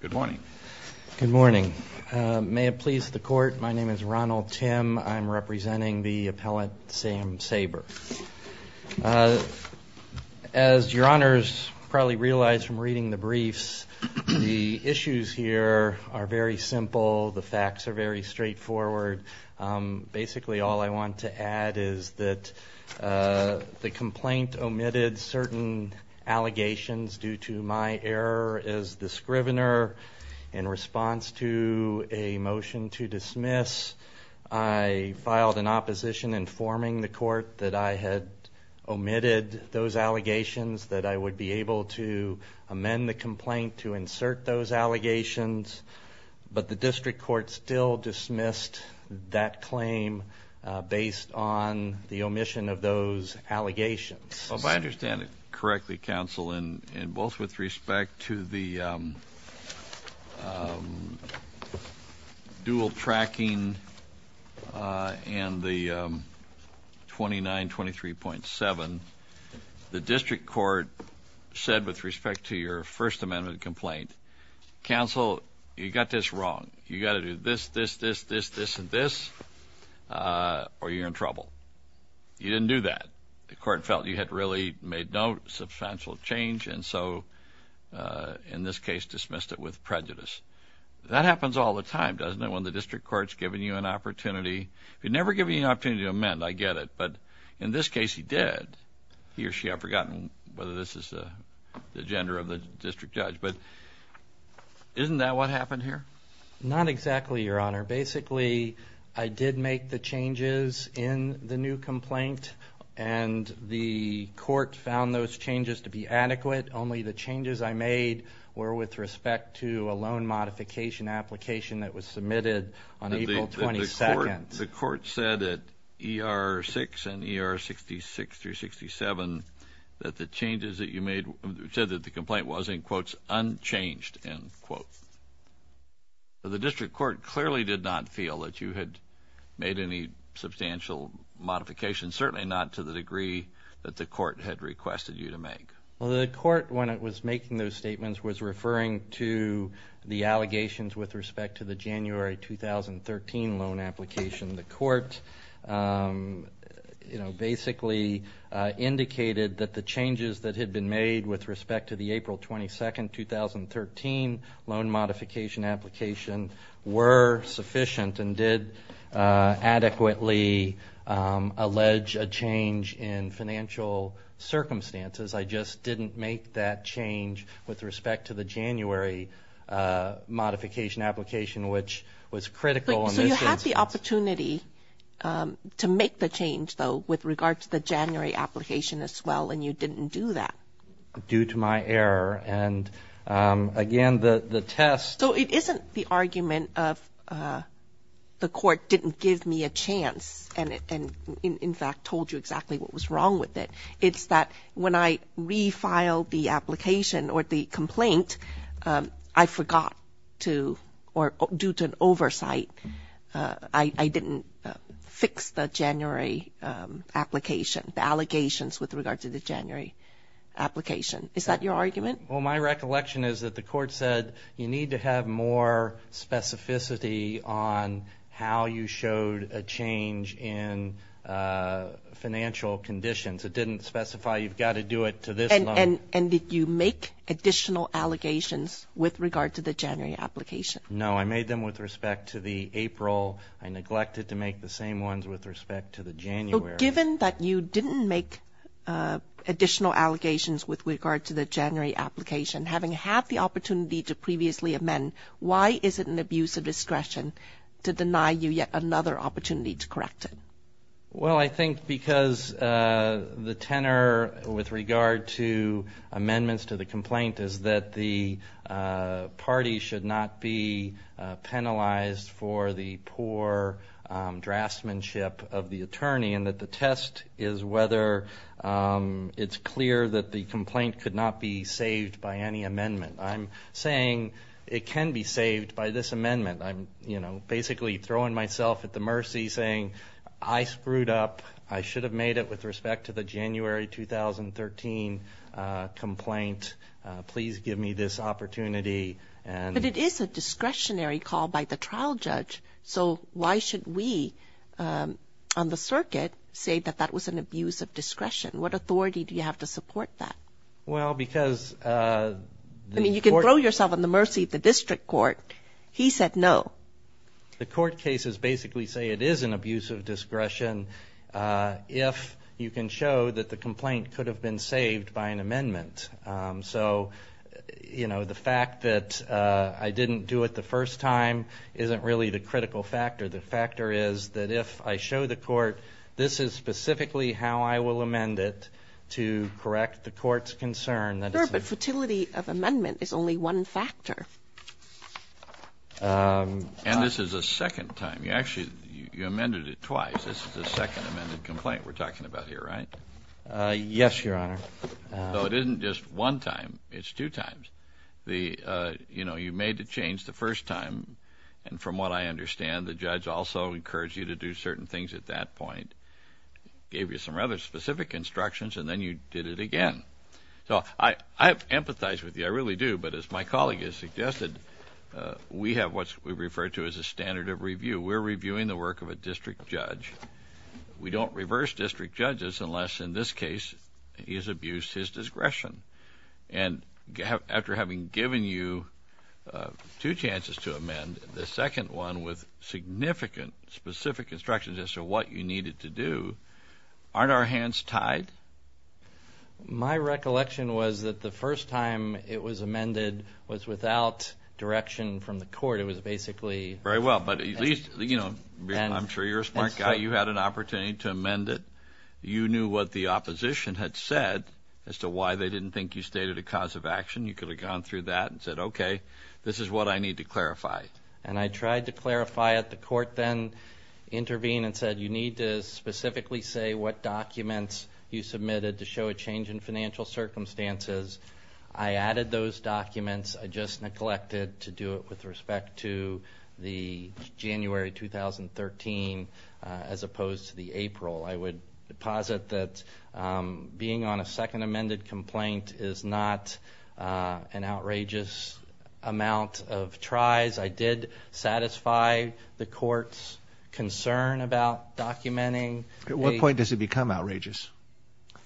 Good morning. Good morning. May it please the court, my name is Ronald Tim. I'm representing the appellant Sam Saber. As your honors probably realize from reading the briefs, the issues here are very simple, the facts are very straightforward. Basically all I want to add is that the complaint omitted certain allegations due to my error as the scrivener. In response to a motion to dismiss, I filed an opposition informing the court that I had omitted those allegations, that I would be able to amend the complaint to insert those allegations, but the district court still dismissed that claim based on the amendment. Correctly, counsel, in both with respect to the dual tracking and the 2923.7, the district court said with respect to your First Amendment complaint, counsel, you got this wrong. You got to do this, this, this, this, this, and this, or you're in trouble. You didn't do that. The court felt you had really made no substantial change, and so in this case dismissed it with prejudice. That happens all the time, doesn't it, when the district court's giving you an opportunity. If you've never given you an opportunity to amend, I get it, but in this case he did. He or she, I've forgotten whether this is the agenda of the district judge, but isn't that what happened here? Not exactly, your honor. Basically, I did make the changes in the new complaint, and the court found those changes to be adequate. Only the changes I made were with respect to a loan modification application that was submitted on April 22nd. The court said at ER 6 and ER 66 through 67 that the changes that you made said that the district did not feel that you had made any substantial modifications, certainly not to the degree that the court had requested you to make. Well, the court, when it was making those statements, was referring to the allegations with respect to the January 2013 loan application. The court, you know, basically indicated that the changes that had been made with respect to the April 22nd, 2013 loan modification application were sufficient and did adequately allege a change in financial circumstances. I just didn't make that change with respect to the January modification application, which was critical. So you had the opportunity to make the change, though, with regard to the January application as well, and you didn't do that. Due to my error, and again, the test... So it isn't the argument of the court didn't give me a chance and, in fact, told you exactly what was wrong with it. It's that when I refiled the application or the complaint, I forgot to, or due to an oversight, I didn't fix the January application, the allegations with regard to the January application. Is that your argument? Well, my recollection is that the court said you need to have more specificity on how you showed a change in financial conditions. It didn't specify you've got to do it to this loan. And did you make additional allegations with regard to the January application? No, I made them with respect to the April. I So given that you didn't make additional allegations with regard to the January application, having had the opportunity to previously amend, why is it an abuse of discretion to deny you yet another opportunity to correct it? Well, I think because the tenor with regard to amendments to the complaint is that the party should not be penalized for the poor draftsmanship of the attorney and that the test is whether it's clear that the complaint could not be saved by any amendment. I'm saying it can be saved by this amendment. I'm, you know, basically throwing myself at the mercy saying I screwed up. I should have made it with respect to the January 2013 complaint. Please give me this opportunity. But it is a discretionary call by the trial judge. So why should we, um, on the circuit say that that was an abuse of discretion? What authority do you have to support that? Well, because, uh, I mean, you can throw yourself in the mercy of the district court. He said no. The court cases basically say it is an abuse of discretion. Uh, if you can show that the complaint could have been saved by an amendment. Um, so, you know, the fact that I didn't do it the first time isn't really the critical factor. The critical factor is that if I show the court this is specifically how I will amend it to correct the court's concern that is the fertility of amendment is only one factor. Um, and this is a second time you actually you amended it twice. This is the second amended complaint we're talking about here, right? Uh, yes, Your Honor. So it isn't just one time. It's two times. The, uh, you know, you made the change the first time. And from what I understand, the judge also encouraged you to do certain things at that point, gave you some rather specific instructions, and then you did it again. So I empathize with you. I really do. But as my colleague has suggested, we have what we refer to as a standard of review. We're reviewing the work of a district judge. We don't reverse district judges unless in this case he has abused his discretion. And after having given you two chances to amend the second one with significant specific instructions as to what you needed to do, aren't our hands tied? My recollection was that the first time it was amended was without direction from the court. It was basically very well. But at least, you know, I'm sure you're a smart guy. You had an opportunity to amend it. You knew what the opposition had said as to why they didn't think you stated a cause of action. You could have gone through that and said, okay, this is what I need to clarify. And I tried to clarify it. The court then intervened and said, you need to specifically say what documents you submitted to show a change in financial circumstances. I added those documents. I just neglected to do it with respect to the January 2013 as opposed to the April. I would posit that being on a outrageous amount of tries, I did satisfy the court's concern about documenting. At what point does it become outrageous?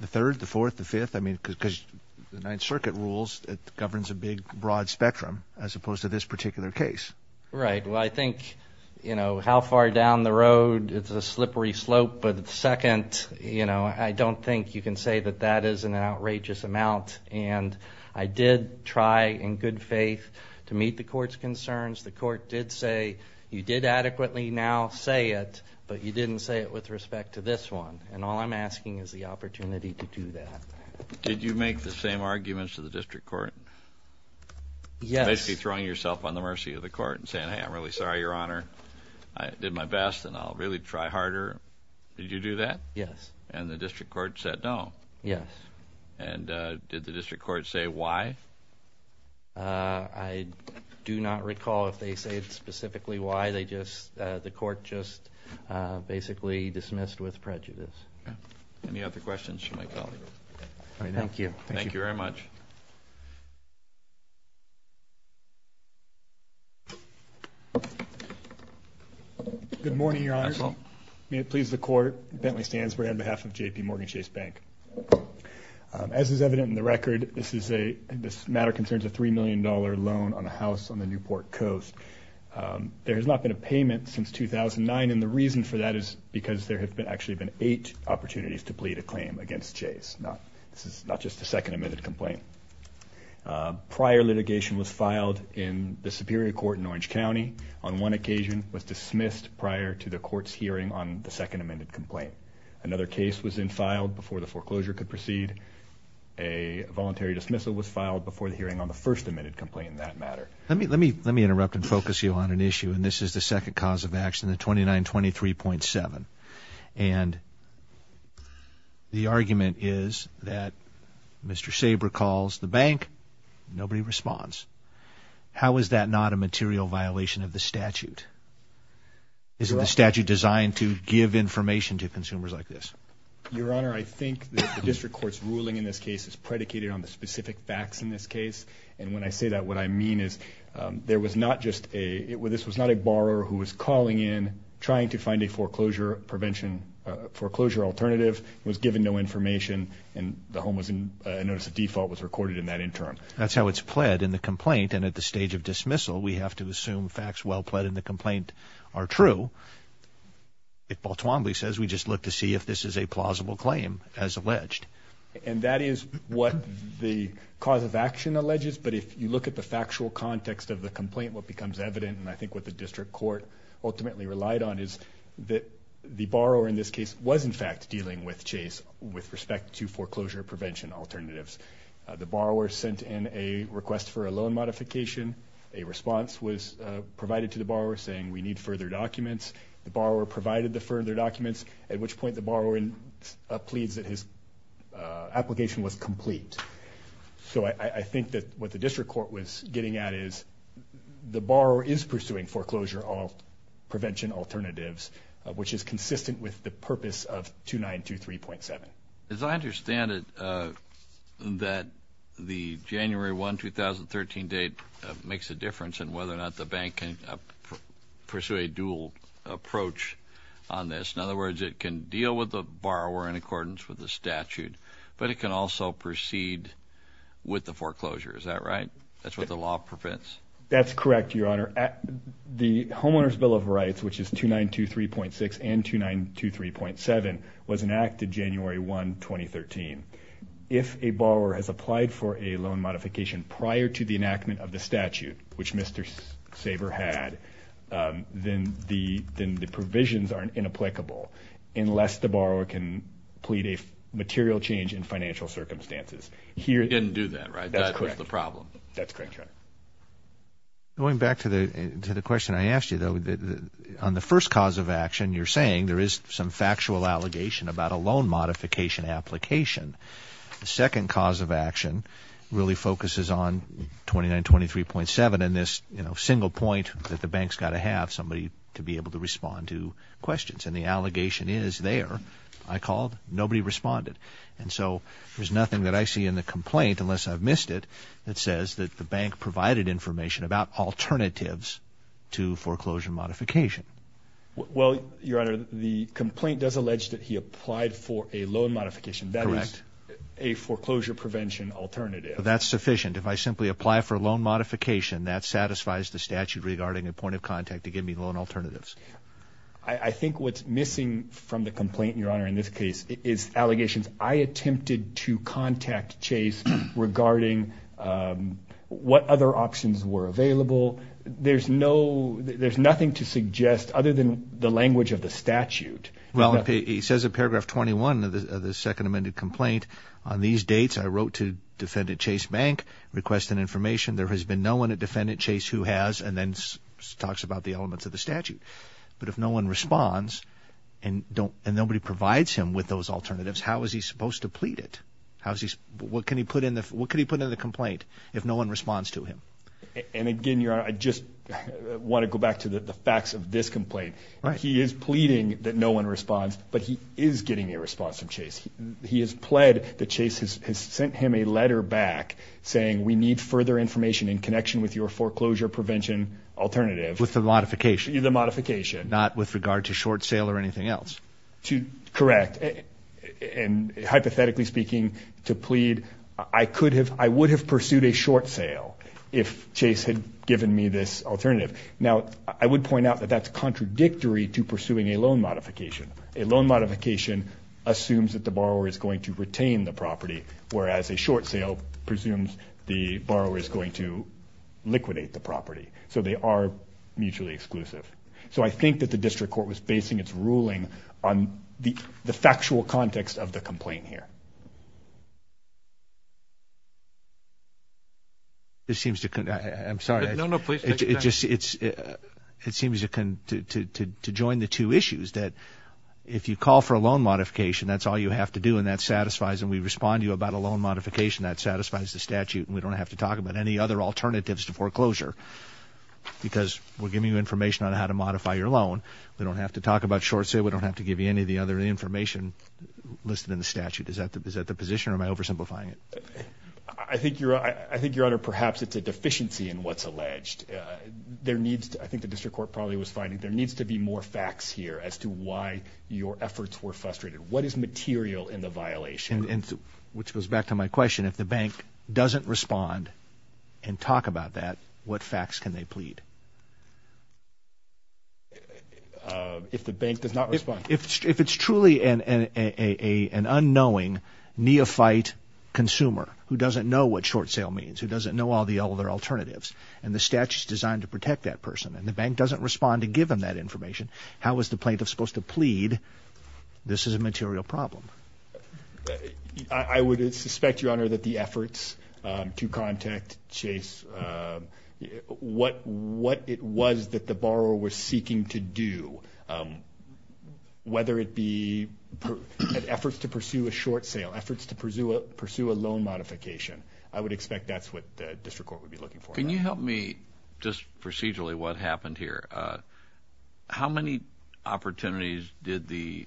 The third, the fourth, the fifth? I mean, because the Ninth Circuit rules it governs a big, broad spectrum as opposed to this particular case. Right. Well, I think, you know, how far down the road it's a slippery slope. But second, you know, I don't think you can say that that is an outrageous amount. And I did try in good faith to meet the court's concerns. The court did say, you did adequately now say it, but you didn't say it with respect to this one. And all I'm asking is the opportunity to do that. Did you make the same arguments to the district court? Yes. Basically throwing yourself on the mercy of the court and saying, hey, I'm really sorry, Your Honor. I did my best and I'll really try harder. Did you do that? Yes. And the district court said no? Yes. And did the district court say why? I do not recall if they said specifically why. They just, the court just basically dismissed with prejudice. Any other questions? Thank you. Thank you very much. Good morning, Your Honor. May it please the court. Bentley Stansberg on behalf of JPMorgan Chase Bank. As is evident in the record, this is a, this matter concerns a $3 million loan on a house on the Newport coast. There has not been a payment since 2009, and the reason for that is because there have been actually been eight opportunities to plead a claim against Chase. Not, this is not just a second admitted complaint. Prior litigation was filed in the Superior Court in Orange County. On one occasion was dismissed prior to the court's hearing on the second amended complaint. Another case was then filed before the foreclosure could proceed. A voluntary dismissal was filed before the hearing on the first amended complaint in that matter. Let me, let me, let me interrupt and focus you on an issue, and this is the second cause of action, the 2923.7. And the argument is that Mr. Sabre calls the bank, nobody responds. How is that not a material violation of the statute? Is it the statute designed to give information to consumers like this? Your Honor, I think the district court's ruling in this case is predicated on the specific facts in this case, and when I say that, what I mean is there was not just a, it was, this was not a borrower who was calling in, trying to find a foreclosure prevention, foreclosure alternative, was given no default, was recorded in that interim. That's how it's pled in the complaint, and at the stage of dismissal, we have to assume facts well pled in the complaint are true. If Baltwombly says we just look to see if this is a plausible claim as alleged. And that is what the cause of action alleges, but if you look at the factual context of the complaint, what becomes evident, and I think what the district court ultimately relied on, is that the borrower in this case was in fact dealing with Chase with respect to foreclosure prevention alternatives. The borrower sent in a request for a loan modification, a response was provided to the borrower saying we need further documents. The borrower provided the further documents, at which point the borrower pleads that his application was complete. So I think that what the district court was getting at is, the borrower is pursuing foreclosure prevention alternatives, which is that the January 1, 2013 date makes a difference in whether or not the bank can pursue a dual approach on this. In other words, it can deal with the borrower in accordance with the statute, but it can also proceed with the foreclosure. Is that right? That's what the law prevents. That's correct, your honor. The Homeowners Bill of Rights, which is 2923.6 and 2923.7, was that a borrower has applied for a loan modification prior to the enactment of the statute, which Mr. Saber had, then the provisions aren't inapplicable, unless the borrower can plead a material change in financial circumstances. He didn't do that, right? That's correct. That's the problem. That's correct, your honor. Going back to the question I asked you, though, on the first cause of action, you're saying there is some factual allegation about a second cause of action really focuses on 2923.7 and this, you know, single point that the bank's got to have somebody to be able to respond to questions. And the allegation is there. I called, nobody responded. And so there's nothing that I see in the complaint, unless I've missed it, that says that the bank provided information about alternatives to foreclosure modification. Well, your honor, the complaint does allege that he applied for a loan modification. That is a foreclosure prevention alternative. That's sufficient. If I simply apply for a loan modification, that satisfies the statute regarding a point of contact to give me loan alternatives. I think what's missing from the complaint, your honor, in this case, is allegations. I attempted to contact Chase regarding what other options were available. There's no, there's nothing to suggest, other than the language of the statute. Well, he says in paragraph 21 of the Second Amendment complaint, on these dates, I wrote to defendant Chase Bank, requested information. There has been no one at defendant Chase who has, and then talks about the elements of the statute. But if no one responds, and don't, and nobody provides him with those alternatives, how is he supposed to plead it? How is he, what can he put in the, what could he put in the complaint if no one responds to him? And again, your honor, I just want to go back to the facts of this complaint. He is pleading that no one responds, but he is getting a response from the plaintiff. He has pled that Chase has sent him a letter back saying, we need further information in connection with your foreclosure prevention alternative. With the modification. The modification. Not with regard to short sale or anything else. To, correct, and hypothetically speaking, to plead, I could have, I would have pursued a short sale if Chase had given me this alternative. Now, I would point out that that's contradictory to pursuing a loan modification. A loan modification assumes that the borrower is going to retain the property, whereas a short sale presumes the borrower is going to liquidate the property. So, they are mutually exclusive. So, I think that the district court was basing its ruling on the factual context of the complaint here. It seems to, I'm sorry. No, no, please. It just, it seems to join the two issues that if you call for a loan modification, that's all you have to do and that satisfies and we respond to you about a loan modification, that satisfies the statute and we don't have to talk about any other alternatives to foreclosure because we're giving you information on how to modify your loan. We don't have to talk about short sale. We don't have to give you any of the other information listed in the statute. Is that the, is that the position or am I oversimplifying it? I think you're, I think your honor, perhaps it's a deficiency in what's alleged. There needs to, I think the district court probably was finding there needs to be more facts here as to why your efforts were frustrated. What is material in the violation? Which goes back to my question, if the bank doesn't respond and talk about that, what facts can they plead? If the bank does not respond. If it's truly an unknowing neophyte consumer who doesn't know what short sale means, who doesn't know all the other alternatives and the statute is designed to protect that person and the bank is designed to give them that information, how is the plaintiff supposed to plead this is a material problem? I would suspect, your honor, that the efforts to contact Chase, what it was that the borrower was seeking to do, whether it be efforts to pursue a short sale, efforts to pursue a loan modification, I would expect that's what the district court would be looking for. Can you help me just procedurally what happened here? How many opportunities did the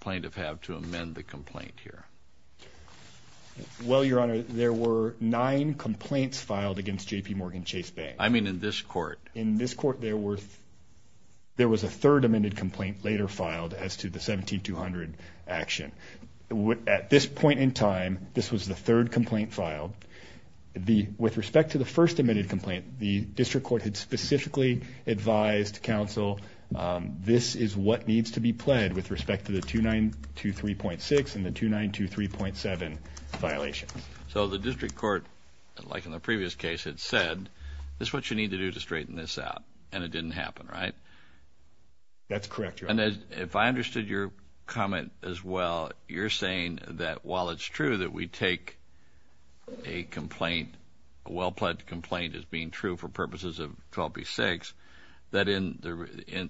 plaintiff have to amend the complaint here? Well, your honor, there were nine complaints filed against JPMorgan Chase Bank. I mean in this court. In this court, there was a third amended complaint later filed as to the 17200 action. At this point in time, this was the third amended complaint. The district court had specifically advised counsel this is what needs to be pled with respect to the 2923.6 and the 2923.7 violations. So the district court, like in the previous case, had said this is what you need to do to straighten this out and it didn't happen, right? That's correct, your honor. And if I understood your comment as well, you're saying that while it's true that we take a complaint, a well-pledged complaint, as being true for purposes of 12B6, that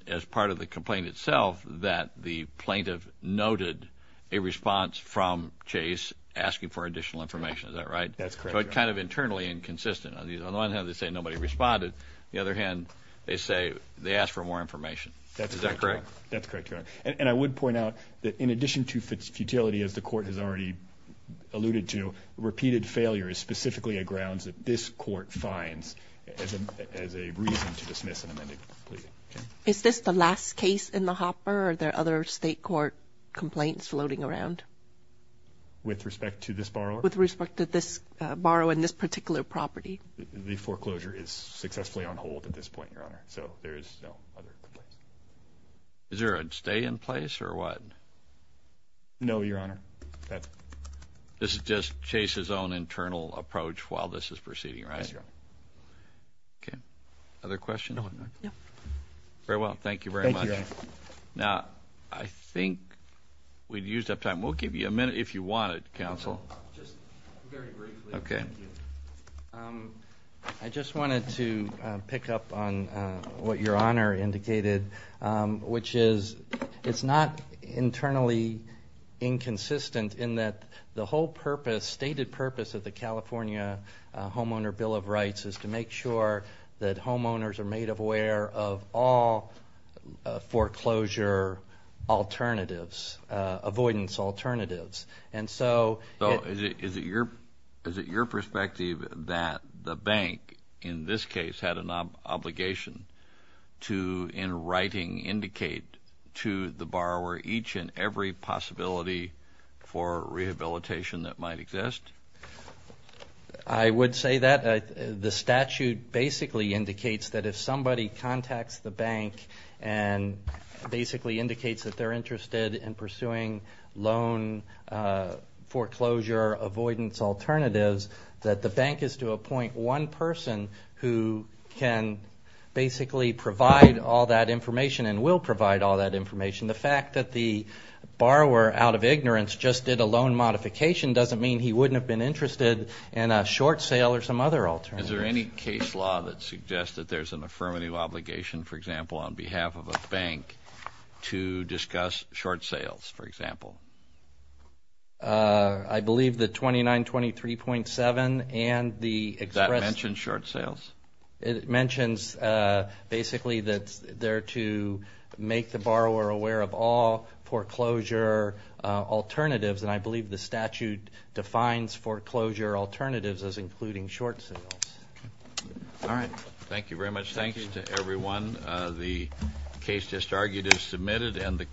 as part of the complaint itself that the plaintiff noted a response from Chase asking for additional information. Is that right? That's correct, your honor. But kind of internally inconsistent. On the one hand, they say nobody responded. The other hand, they say they asked for more information. That's correct, your honor. And I would point out that in addition to its futility, as the court has already alluded to, repeated failure is specifically a grounds that this court finds as a reason to dismiss an amended complaint. Is this the last case in the hopper? Are there other state court complaints floating around? With respect to this borrower? With respect to this borrower and this particular property. The foreclosure is successfully on hold at this point, your Is there a stay in place or what? No, your honor. This is just Chase's own internal approach while this is proceeding, right? Yes, your honor. Okay. Other questions? No, your honor. Very well. Thank you very much. Now, I think we've used up time. We'll give you a minute if you want it, counsel. Okay. I just wanted to pick up on what your honor indicated, which is it's not internally inconsistent in that the whole purpose, stated purpose of the California Homeowner Bill of Rights is to make sure that homeowners are made aware of all foreclosure alternatives, avoidance alternatives. And so is it your perspective that the bank in this case had an obligation to, in writing, indicate to the borrower each and every possibility for rehabilitation that might exist? I would say that the statute basically indicates that if somebody contacts the bank and basically indicates that they're interested in pursuing loan foreclosure avoidance alternatives, that the bank is to appoint one person who can basically provide all that information and will provide all that information. The fact that the borrower out of ignorance just did a loan modification doesn't mean he wouldn't have been interested in a short sale or some other alternative. Is there any case law that suggests that there's an affirmative obligation, for example, on behalf of a bank to discuss short sales, for example? I believe that 2923.7 and the express... That mentions short sales? It mentions basically that they're to make the borrower aware of all foreclosure alternatives, and I believe the statute defines foreclosure alternatives as including short sales. All right. Thank you very much. Thank you to everyone. The case just argued is submitted and the